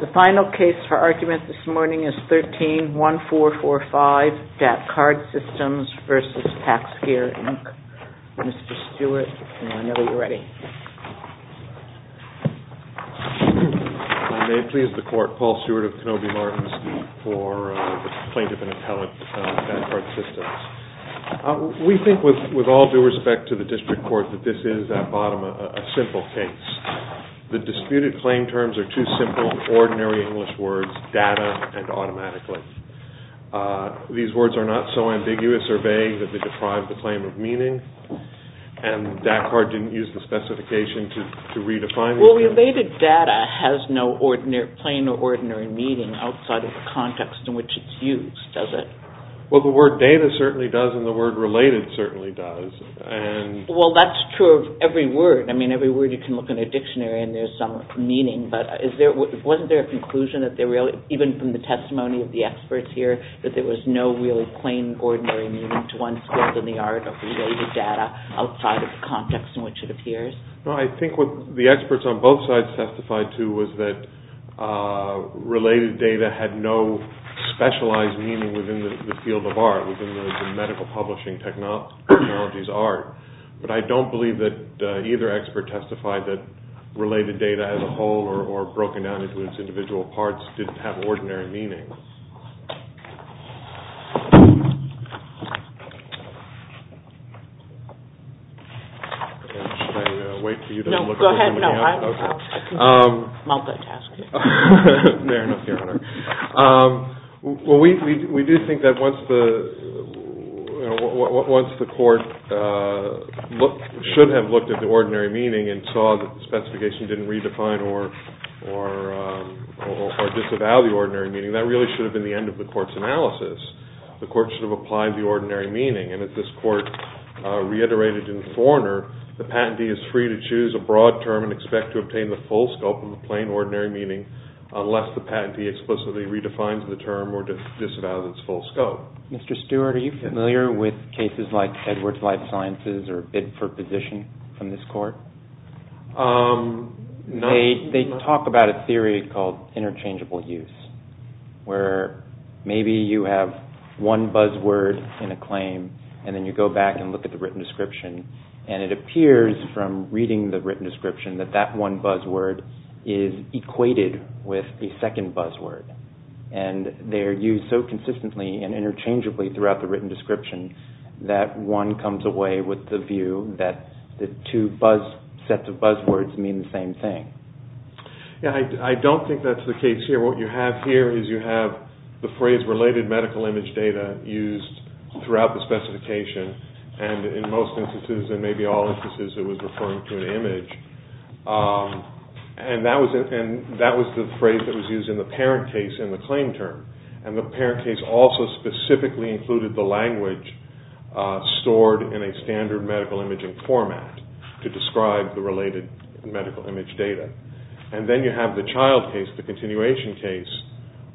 The PacSmart Company, Inc. v. PacSmart, Inc. The final case for argument this morning is 13-1445, DATCard Systems v. PacSmart, Inc. Mr. Stewart, I know you're ready. I may please the court, Paul Stewart of Kenobi Martins for the plaintiff and appellate, DATCard Systems. We think, with all due respect to the district court, that this is, at bottom, a simple case. The disputed claim terms are two simple, ordinary English words, data and automatically. These words are not so ambiguous or vague that they deprive the claim of meaning, and DATCard didn't use the specification to redefine these terms. Well, related data has no plain or ordinary meaning outside of the context in which it's used, does it? Well, the word data certainly does, and the word related certainly does. Well, that's true of every word. I mean, every word you can look in a dictionary and there's some meaning, but wasn't there a conclusion, even from the testimony of the experts here, that there was no really plain, ordinary meaning to one's world in the art of related data outside of the context in which it appears? No, I think what the experts on both sides testified to was that related data had no specialized meaning within the field of art, within the medical publishing technology's art. But I don't believe that either expert testified that related data as a whole or broken down into its individual parts didn't have ordinary meaning. Should I wait for you to look at what you have? No, go ahead. No, I can mount that task. Fair enough, Your Honor. Well, we do think that once the court should have looked at the ordinary meaning and saw that the specification didn't redefine or disavow the ordinary meaning, that really should have been the end of the court's analysis. The court should have applied the ordinary meaning, and as this court reiterated in Thorner, the patentee is free to choose a broad term and expect to obtain the full scope of the plain, ordinary meaning unless the patentee explicitly redefines the term or disavows its full scope. Mr. Stewart, are you familiar with cases like Edwards Life Sciences or Bidford position from this court? They talk about a theory called interchangeable use, where maybe you have one buzzword in a claim, and then you go back and look at the written description, and it appears from reading the written description that that one buzzword is equated with a second buzzword, and they are used so consistently and interchangeably throughout the written description that one comes away with the view that the two sets of buzzwords mean the same thing. I don't think that's the case here. What you have here is you have the phrase related medical image data used throughout the specification, and in most instances and maybe all instances it was referring to an image, and that was the phrase that was used in the parent case in the claim term, and the parent case also specifically included the language stored in a standard medical imaging format to describe the related medical image data. And then you have the child case, the continuation case,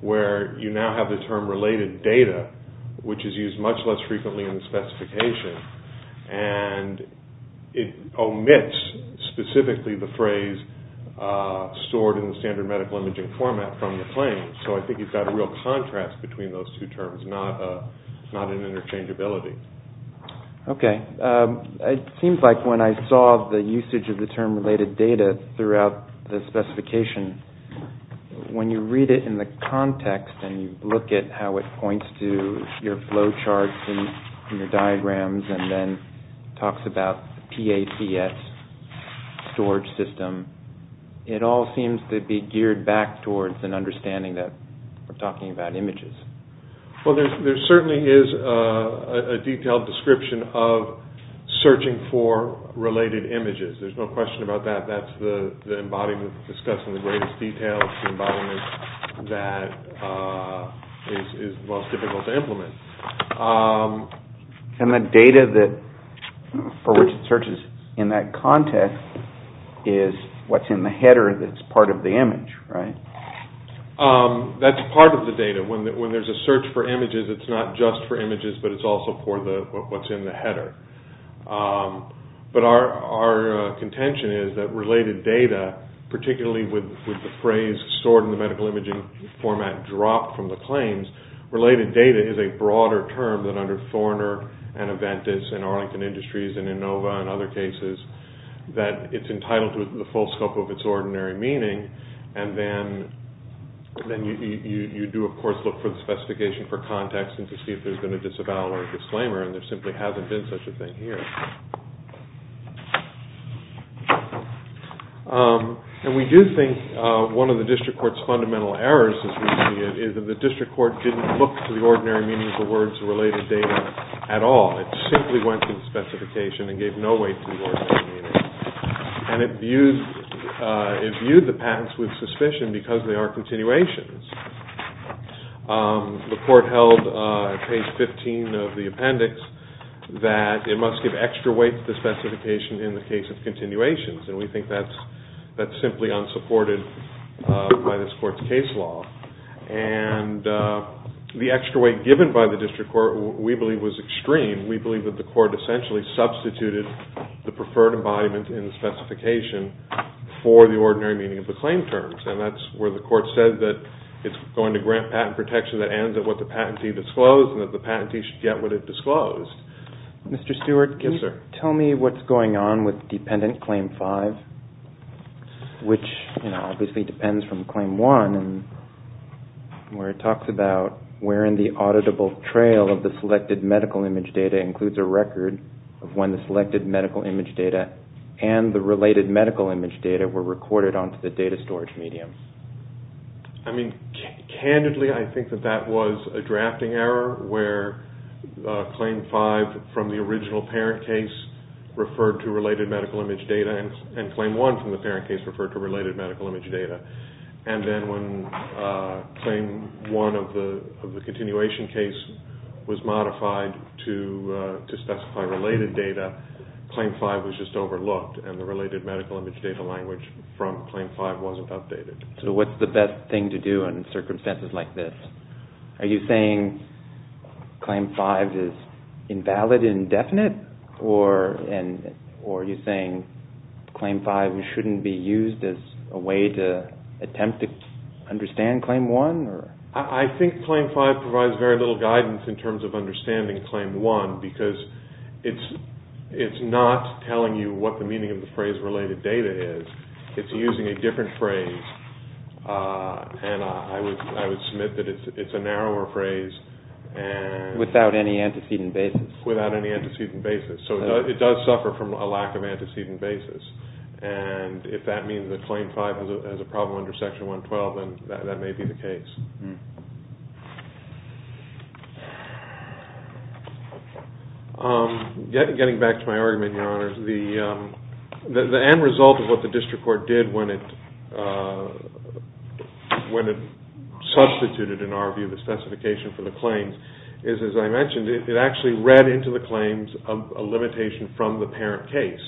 where you now have the term related data, which is used much less frequently in the specification, and it omits specifically the phrase stored in the standard medical imaging format from the claim. So I think you've got a real contrast between those two terms, and it's not an interchangeability. Okay. It seems like when I saw the usage of the term related data throughout the specification, when you read it in the context and you look at how it points to your flow charts and your diagrams and then talks about the PACS storage system, it all seems to be geared back towards an understanding that we're talking about images. Well, there certainly is a detailed description of searching for related images. There's no question about that. That's the embodiment of discussing the greatest details, the embodiment that is most difficult to implement. And the data for which it searches in that context is what's in the header that's part of the image, right? That's part of the data. When there's a search for images, it's not just for images, but it's also for what's in the header. But our contention is that related data, particularly with the phrase stored in the medical imaging format dropped from the claims, related data is a broader term than under Thorner and Aventis and Arlington Industries and Inova and other cases, that it's entitled to the full scope of its ordinary meaning. And then you do, of course, look for the specification for context and to see if there's been a disavowal or a disclaimer and there simply hasn't been such a thing here. And we do think one of the district court's fundamental errors, as we see it, is that the district court didn't look for the ordinary meaning of the words related data at all. It simply went to the specification and gave no weight to the ordinary meaning. And it viewed the patents with suspicion because they are continuations. The court held on page 15 of the appendix that it must give extra weight to the specification in the case of continuations, and we think that's simply unsupported by this court's case law. And the extra weight given by the district court, we believe, was extreme. We believe that the court essentially substituted the preferred embodiment in the specification for the ordinary meaning of the claim terms, and that's where the court said that it's going to grant patent protection that ends at what the patentee disclosed and that the patentee should get what it disclosed. Mr. Stewart, can you tell me what's going on with dependent claim 5, which obviously depends from claim 1, where it talks about wherein the auditable trail of the selected medical image data includes a record of when the selected medical image data and the related medical image data were recorded onto the data storage medium. I mean, candidly, I think that that was a drafting error where claim 5 from the original parent case referred to related medical image data, and claim 1 from the parent case referred to related medical image data. And then when claim 1 of the continuation case was modified to specify related data, claim 5 was just overlooked, and the related medical image data language from claim 5 wasn't updated. So what's the best thing to do in circumstances like this? Are you saying claim 5 is invalid, indefinite, or are you saying claim 5 shouldn't be used as a way to attempt to understand claim 1? I think claim 5 provides very little guidance in terms of understanding claim 1 because it's not telling you what the meaning of the phrase related data is. It's using a different phrase, and I would submit that it's a narrower phrase. Without any antecedent basis. Without any antecedent basis. So it does suffer from a lack of antecedent basis. And if that means that claim 5 has a problem under Section 112, then that may be the case. Getting back to my argument, Your Honors, the end result of what the district court did when it substituted, in our view, the specification for the claims is, as I mentioned, it actually read into the claims a limitation from the parent case.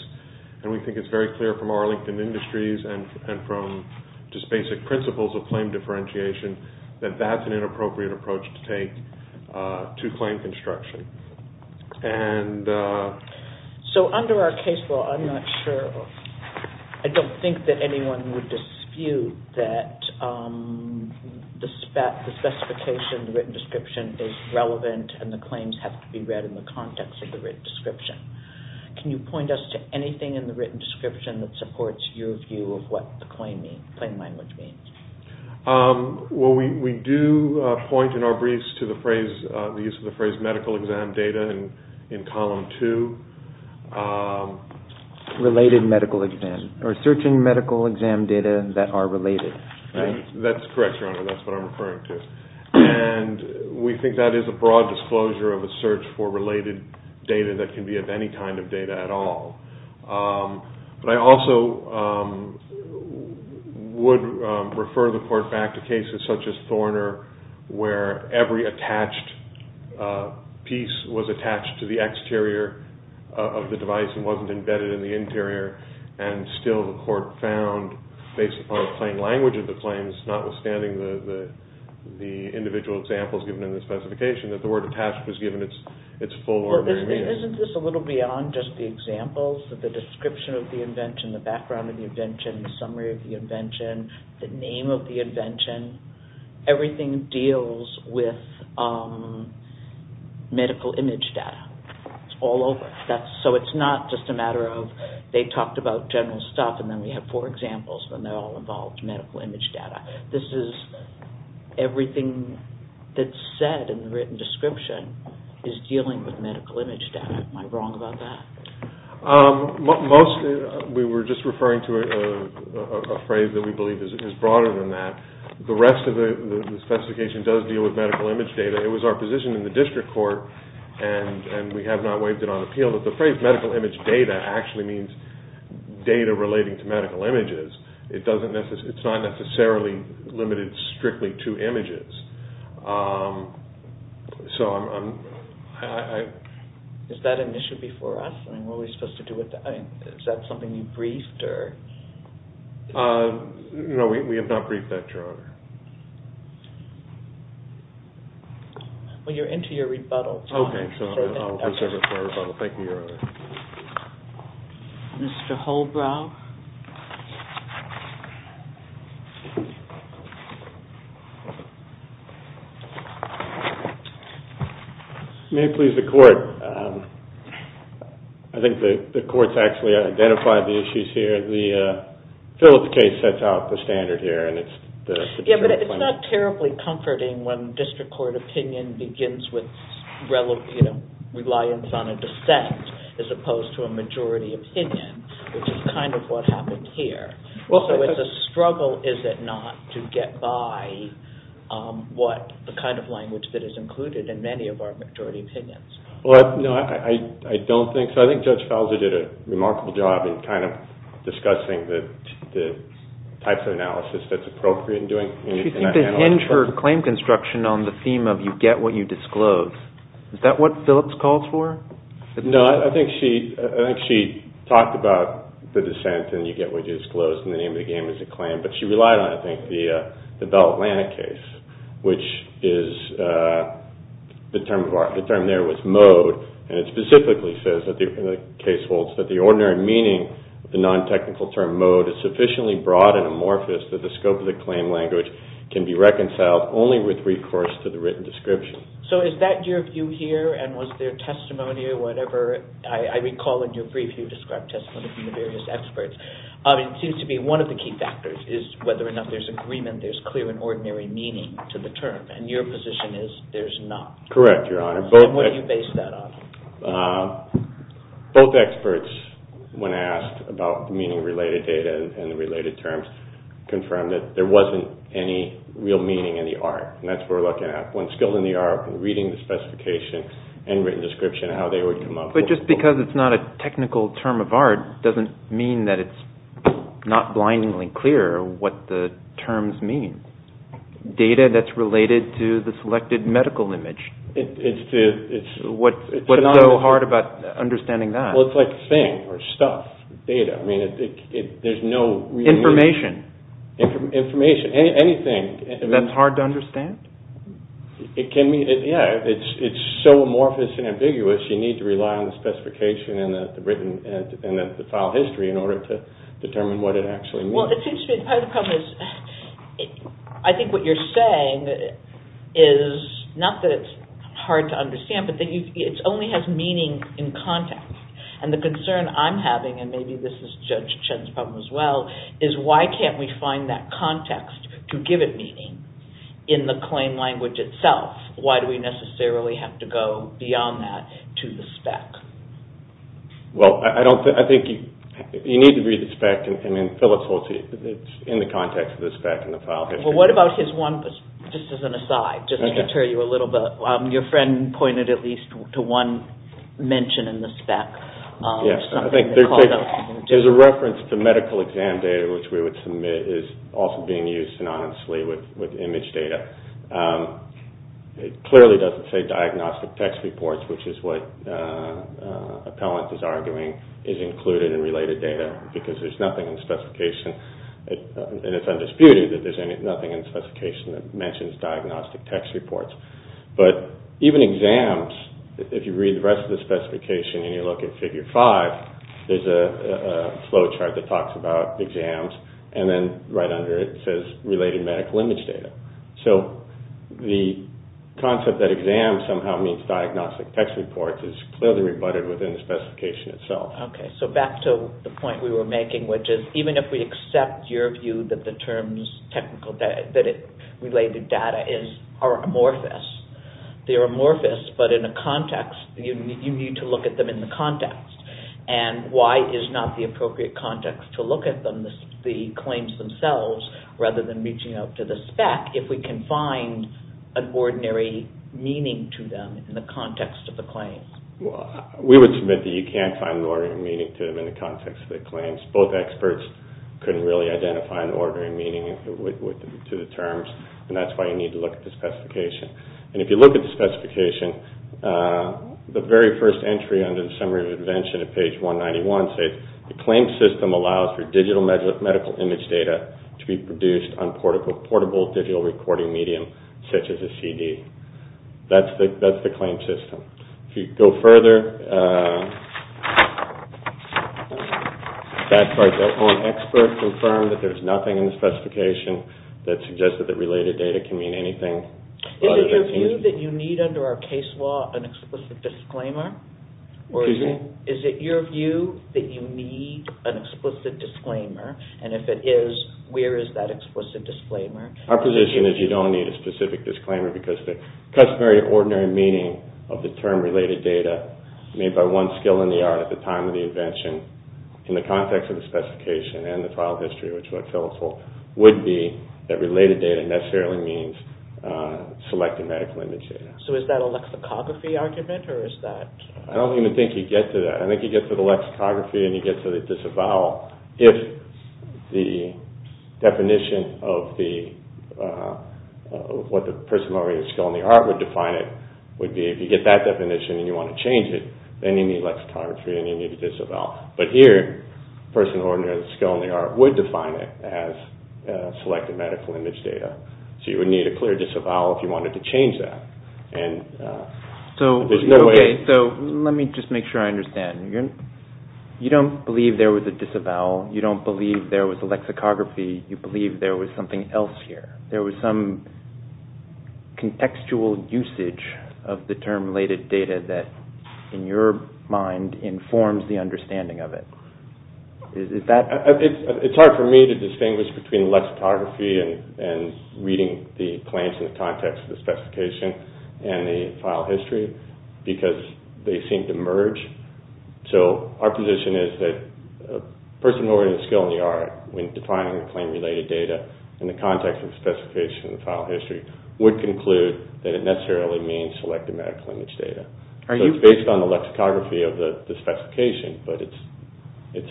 And we think it's very clear from Arlington Industries and from just basic principles of claim differentiation that that's an inappropriate approach to take to claim construction. So under our case law, I'm not sure, I don't think that anyone would dispute that the specification, the written description, is relevant and the claims have to be read in the context of the written description. Can you point us to anything in the written description that supports your view of what the claim language means? Well, we do point in our briefs to the phrase, the use of the phrase medical exam data in Column 2. Related medical exam. Or searching medical exam data that are related. That's correct, Your Honor. That's what I'm referring to. And we think that is a broad disclosure of a search for related data that can be of any kind of data at all. But I also would refer the court back to cases such as Thorner where every attached piece was attached to the exterior of the device and wasn't embedded in the interior. And still the court found, based upon the plain language of the claims, notwithstanding the individual examples given in the specification, that the word attached was given its full ordinary meaning. Isn't this a little beyond just the examples? The description of the invention, the background of the invention, the summary of the invention, the name of the invention. Everything deals with medical image data. It's all over. So it's not just a matter of they talked about general stuff and then we have four examples and they're all involved in medical image data. This is everything that's said in the written description is dealing with medical image data. Am I wrong about that? We were just referring to a phrase that we believe is broader than that. The rest of the specification does deal with medical image data. It was our position in the district court, and we have not waived it on appeal, that the phrase medical image data actually means data relating to medical images. It's not necessarily limited strictly to images. Is that an issue before us? Is that something you briefed? No, we have not briefed that, Your Honor. Well, you're into your rebuttal. Okay, so I'll reserve it for rebuttal. Thank you, Your Honor. Mr. Holbrow? May it please the Court? I think the Court's actually identified the issues here. The Phillips case sets out the standard here. Yeah, but it's not terribly comforting when district court opinion begins with reliance on a dissent. As opposed to a majority opinion, which is kind of what happened here. So it's a struggle, is it not, to get by the kind of language that is included in many of our majority opinions. Well, no, I don't think so. I think Judge Fowler did a remarkable job in kind of discussing the types of analysis that's appropriate in doing anything like that. She seemed to hinge her claim construction on the theme of you get what you disclose. Is that what Phillips calls for? No, I think she talked about the dissent and you get what you disclose and the name of the game is a claim. But she relied on, I think, the Bell-Atlantic case, which is the term there was mode. And it specifically says that the case holds that the ordinary meaning of the non-technical term mode is sufficiently broad and amorphous that the scope of the claim language can be reconciled only with recourse to the written description. So is that your view here? And was there testimony or whatever? I recall in your brief you described testimony from the various experts. It seems to be one of the key factors is whether or not there's agreement, there's clear and ordinary meaning to the term. And your position is there's not. Correct, Your Honor. So what do you base that on? Both experts, when asked about meaning-related data and the related terms, confirmed that there wasn't any real meaning in the art. And that's what we're looking at. One's skilled in the art and reading the specification and written description of how they would come up. But just because it's not a technical term of art doesn't mean that it's not blindingly clear what the terms mean. Data that's related to the selected medical image. It's the... What's so hard about understanding that? Well, it's like thing or stuff, data. I mean, there's no... Information. Information, anything. That's hard to understand? It can be, yeah. It's so amorphous and ambiguous you need to rely on the specification and the written and the file history in order to determine what it actually means. Well, it seems to me part of the problem is I think what you're saying is not that it's hard to understand but that it only has meaning in context. And the concern I'm having, and maybe this is Judge Chen's problem as well, is why can't we find that context to give it meaning in the claim language itself? Why do we necessarily have to go beyond that to the spec? Well, I don't think... You need to read the spec. I mean, Phillips holds it. It's in the context of the spec and the file history. Well, what about his one, just as an aside, just to deter you a little bit. Your friend pointed at least to one mention in the spec. Yes, I think there's a reference to medical exam data which we would submit is also being used synonymously with image data. It clearly doesn't say diagnostic text reports which is what appellant is arguing is included in related data because there's nothing in the specification. And it's undisputed that there's nothing in the specification that mentions diagnostic text reports. But even exams, if you read the rest of the specification and you look at Figure 5, there's a flowchart that talks about exams and then right under it says related medical image data. So the concept that exam somehow means diagnostic text reports is clearly rebutted within the specification itself. Okay, so back to the point we were making which is even if we accept your view that the terms related data are amorphous, they're amorphous but in a context, you need to look at them in the context. And why is not the appropriate context to look at them, the claims themselves, rather than reaching out to the spec if we can find an ordinary meaning to them in the context of the claims? Well, we would submit that you can't find an ordinary meaning to them in the context of the claims. Both experts couldn't really identify an ordinary meaning to the terms And if you look at the specification, the very first entry under the Summary of Invention at page 191 says, the claim system allows for digital medical image data to be produced on portable digital recording medium such as a CD. That's the claim system. If you go further, experts confirmed that there's nothing in the specification that suggested that related data can mean anything. Is it your view that you need under our case law an explicit disclaimer? Excuse me? Is it your view that you need an explicit disclaimer? And if it is, where is that explicit disclaimer? Our position is you don't need a specific disclaimer because the customary or ordinary meaning of the term related data made by one skill in the art at the time of the invention in the context of the specification and the file history, which would fill us all, would be that related data necessarily means selected medical image data. So is that a lexicography argument or is that... I don't even think you get to that. I think you get to the lexicography and you get to the disavowal if the definition of the... what the person of ordinary skill in the art would define it would be if you get that definition and you want to change it, then you need lexicography and you need a disavowal. But here, a person of ordinary skill in the art would define it as selected medical image data. So you would need a clear disavowal if you wanted to change that. And there's no way... Okay, so let me just make sure I understand. You don't believe there was a disavowal. You don't believe there was a lexicography. You believe there was something else here. There was some contextual usage of the term related data that in your mind informs the understanding of it. Is that... It's hard for me to distinguish between lexicography and reading the claims in the context of the specification and the file history because they seem to merge. So our position is that a person of ordinary skill in the art when defining the claim-related data in the context of the specification and the file history would conclude that it necessarily means selected medical image data. So it's based on the lexicography of the specification, but it's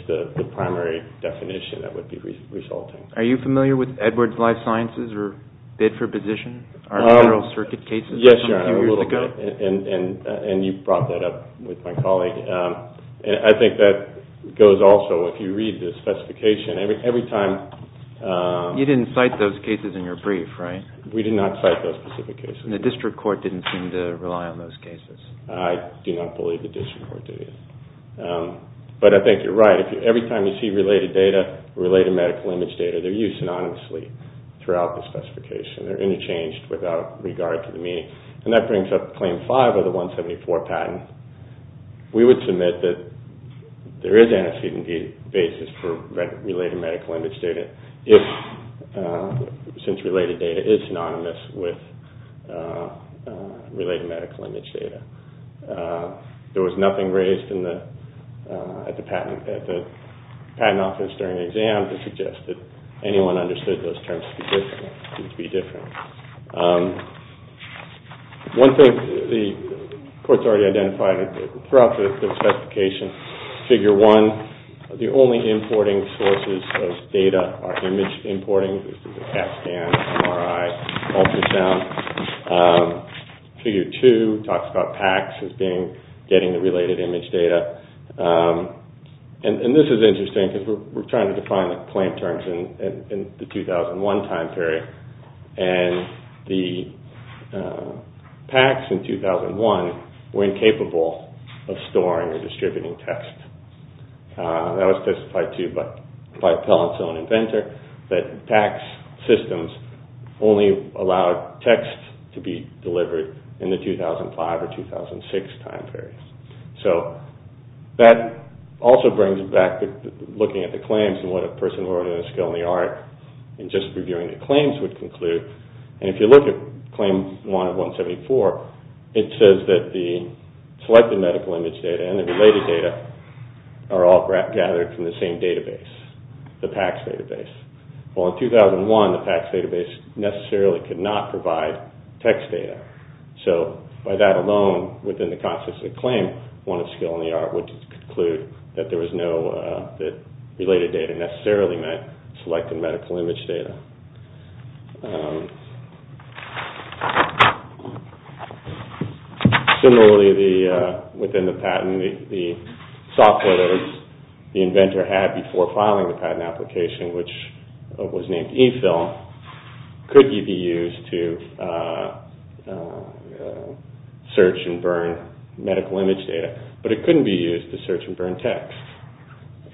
the primary definition that would be resulting. Are you familiar with Edwards Life Sciences or Bid for Position? Our general circuit cases from a few years ago? Yes, Your Honor, a little bit. And you brought that up with my colleague. I think that goes also if you read the specification. Every time... You didn't cite those cases in your brief, right? We did not cite those specific cases. And the district court didn't seem to rely on those cases. I do not believe the district court did. But I think you're right. Every time you see related data, related medical image data, they're used synonymously throughout the specification. They're interchanged without regard to the meaning. And that brings up Claim 5 of the 174 patent. We would submit that there is antecedent basis for related medical image data since related data is synonymous with related medical image data. There was nothing raised at the patent office during the exam that suggested anyone understood those terms to be different. One thing the courts already identified throughout the specification, Figure 1, the only importing sources of data are image importing. This is a CAT scan, MRI, ultrasound. Figure 2 talks about PACS as being getting the related image data. And this is interesting because we're trying to define the claim terms in the 2001 time period. And the PACS in 2001 were incapable of storing or distributing text. That was testified to by Pellent's own inventor that PACS systems only allowed text to be delivered in the 2005 or 2006 time period. So that also brings back looking at the claims and what a person more than a skill in the art in just reviewing the claims would conclude. And if you look at Claim 1 of 174, it says that the selected medical image data and the related data are all gathered from the same database, the PACS database. Well, in 2001, the PACS database necessarily could not provide text data. So by that alone, within the context of the claim, one of skill in the art would conclude that related data necessarily meant selected medical image data. Similarly, within the patent, the software that the inventor had before filing the patent application, which was named eFILM, could be used to search and burn medical image data, but it couldn't be used to search and burn text.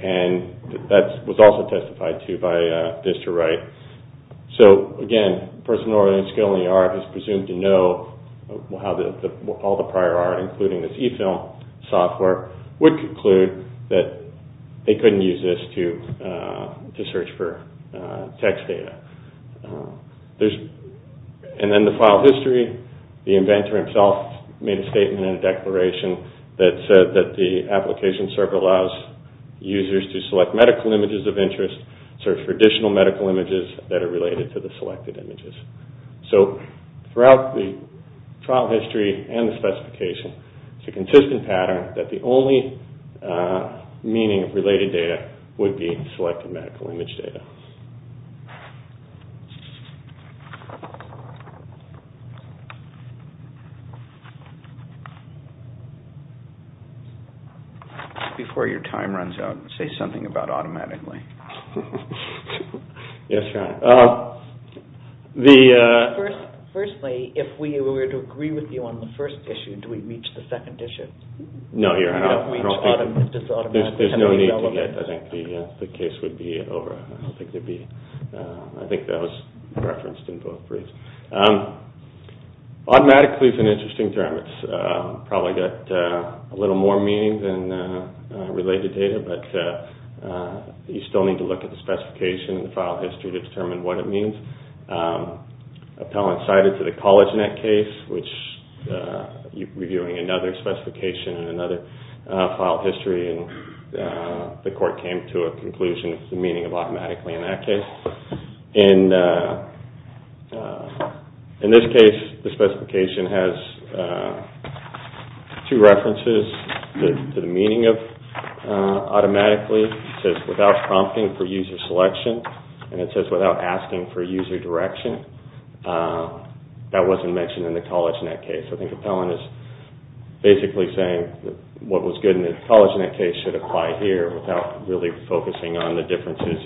And that was also testified to by Bister Wright. So again, a person more than a skill in the art is presumed to know how all the prior art, including this eFILM software, would conclude that they couldn't use this to search for text data. And then the file history, the inventor himself made a statement and a declaration that said that the application server allows users to select medical images of interest, search for additional medical images that are related to the selected images. So throughout the trial history and the specification, it's a consistent pattern that the only meaning of related data would be selected medical image data. Before your time runs out, say something about automatically. Yes, John. Firstly, if we were to agree with you on the first issue, do we reach the second issue? No, Your Honor, I don't think so. There's no need to get... I think the case would be over. I don't think there'd be... I think that was referenced in both briefs. Automatically is an interesting term. It's probably got a little more meaning than related data, but you still need to look at the specification and file history to determine what it means. Appellant cited to the CollegeNet case, which you're reviewing another specification and another file history, and the court came to a conclusion the meaning of automatically in that case. In this case, the specification has two references to the meaning of automatically. It says without prompting for user selection, and it says without asking for user direction. That wasn't mentioned in the CollegeNet case. I think Appellant is basically saying what was good in the CollegeNet case should apply here without really focusing on the differences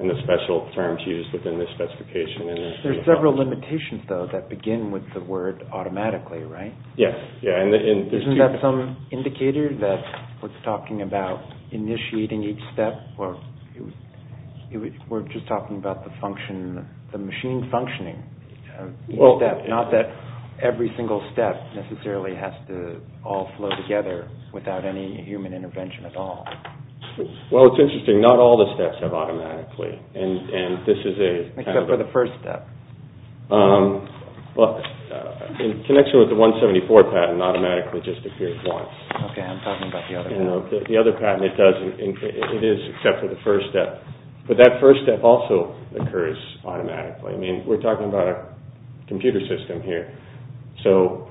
and the special terms used within the specification. There's several limitations, though, that begin with the word automatically, right? Yes. Isn't that some indicator that we're talking about initiating each step? We're just talking about the function, the machine functioning. Not that every single step necessarily has to all flow together without any human intervention at all. Well, it's interesting. Not all the steps have automatically, and this is a... Except for the first step. Well, in connection with the 174 patent, automatically just appears once. Okay, I'm talking about the other patent. The other patent, it doesn't. It is except for the first step, but that first step also occurs automatically. I mean, we're talking about a computer system here, so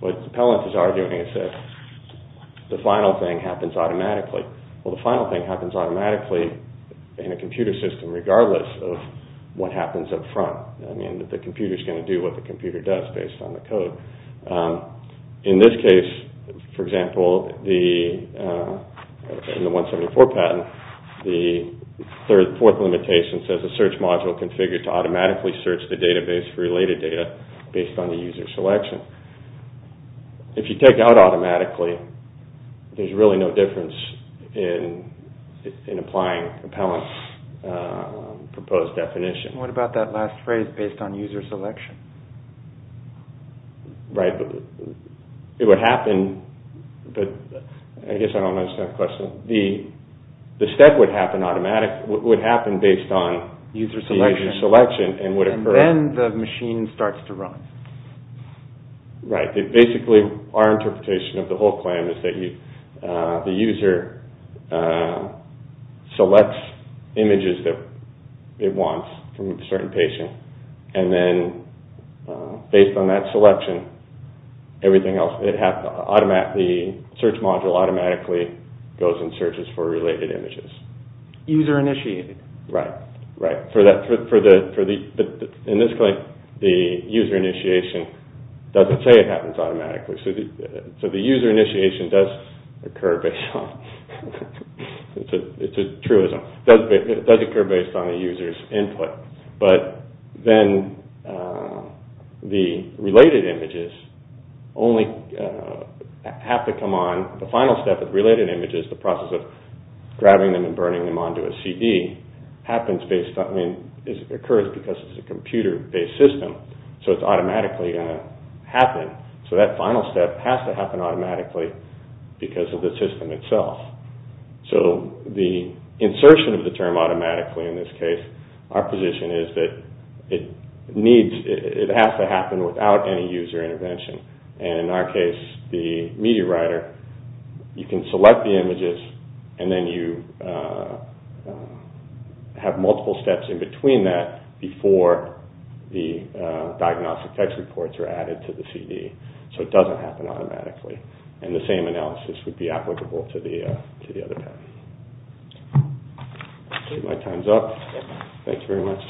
what Pellant is arguing is that the final thing happens automatically. Well, the final thing happens automatically in a computer system regardless of what happens up front. I mean, the computer's going to do what the computer does based on the code. In this case, for example, in the 174 patent, the fourth limitation says a search module configured to automatically search the database for related data based on the user selection. If you take out automatically, there's really no difference in applying Pellant's proposed definition. What about that last phrase, based on user selection? Right. It would happen, but... I guess I don't understand the question. The step would happen based on user selection and would occur... And then the machine starts to run. Right. Basically, our interpretation of the whole claim is that the user selects images that it wants from a certain patient, and then based on that selection, everything else, the search module automatically goes and searches for related images. User initiated. Right. In this claim, the user initiation doesn't say it happens automatically. So the user initiation does occur based on... It's a truism. It does occur based on the user's input. But then the related images only have to come on... The final step of related images, the process of grabbing them and burning them onto a CD, happens based on... I mean, it occurs because it's a computer-based system, so it's automatically going to happen. So that final step has to happen automatically because of the system itself. So the insertion of the term automatically, in this case, our position is that it needs... It has to happen without any user intervention. And in our case, the media writer, you can select the images and then you... have multiple steps in between that before the diagnostic text reports are added to the CD. So it doesn't happen automatically. And the same analysis would be applicable to the other path. My time's up. Thank you very much.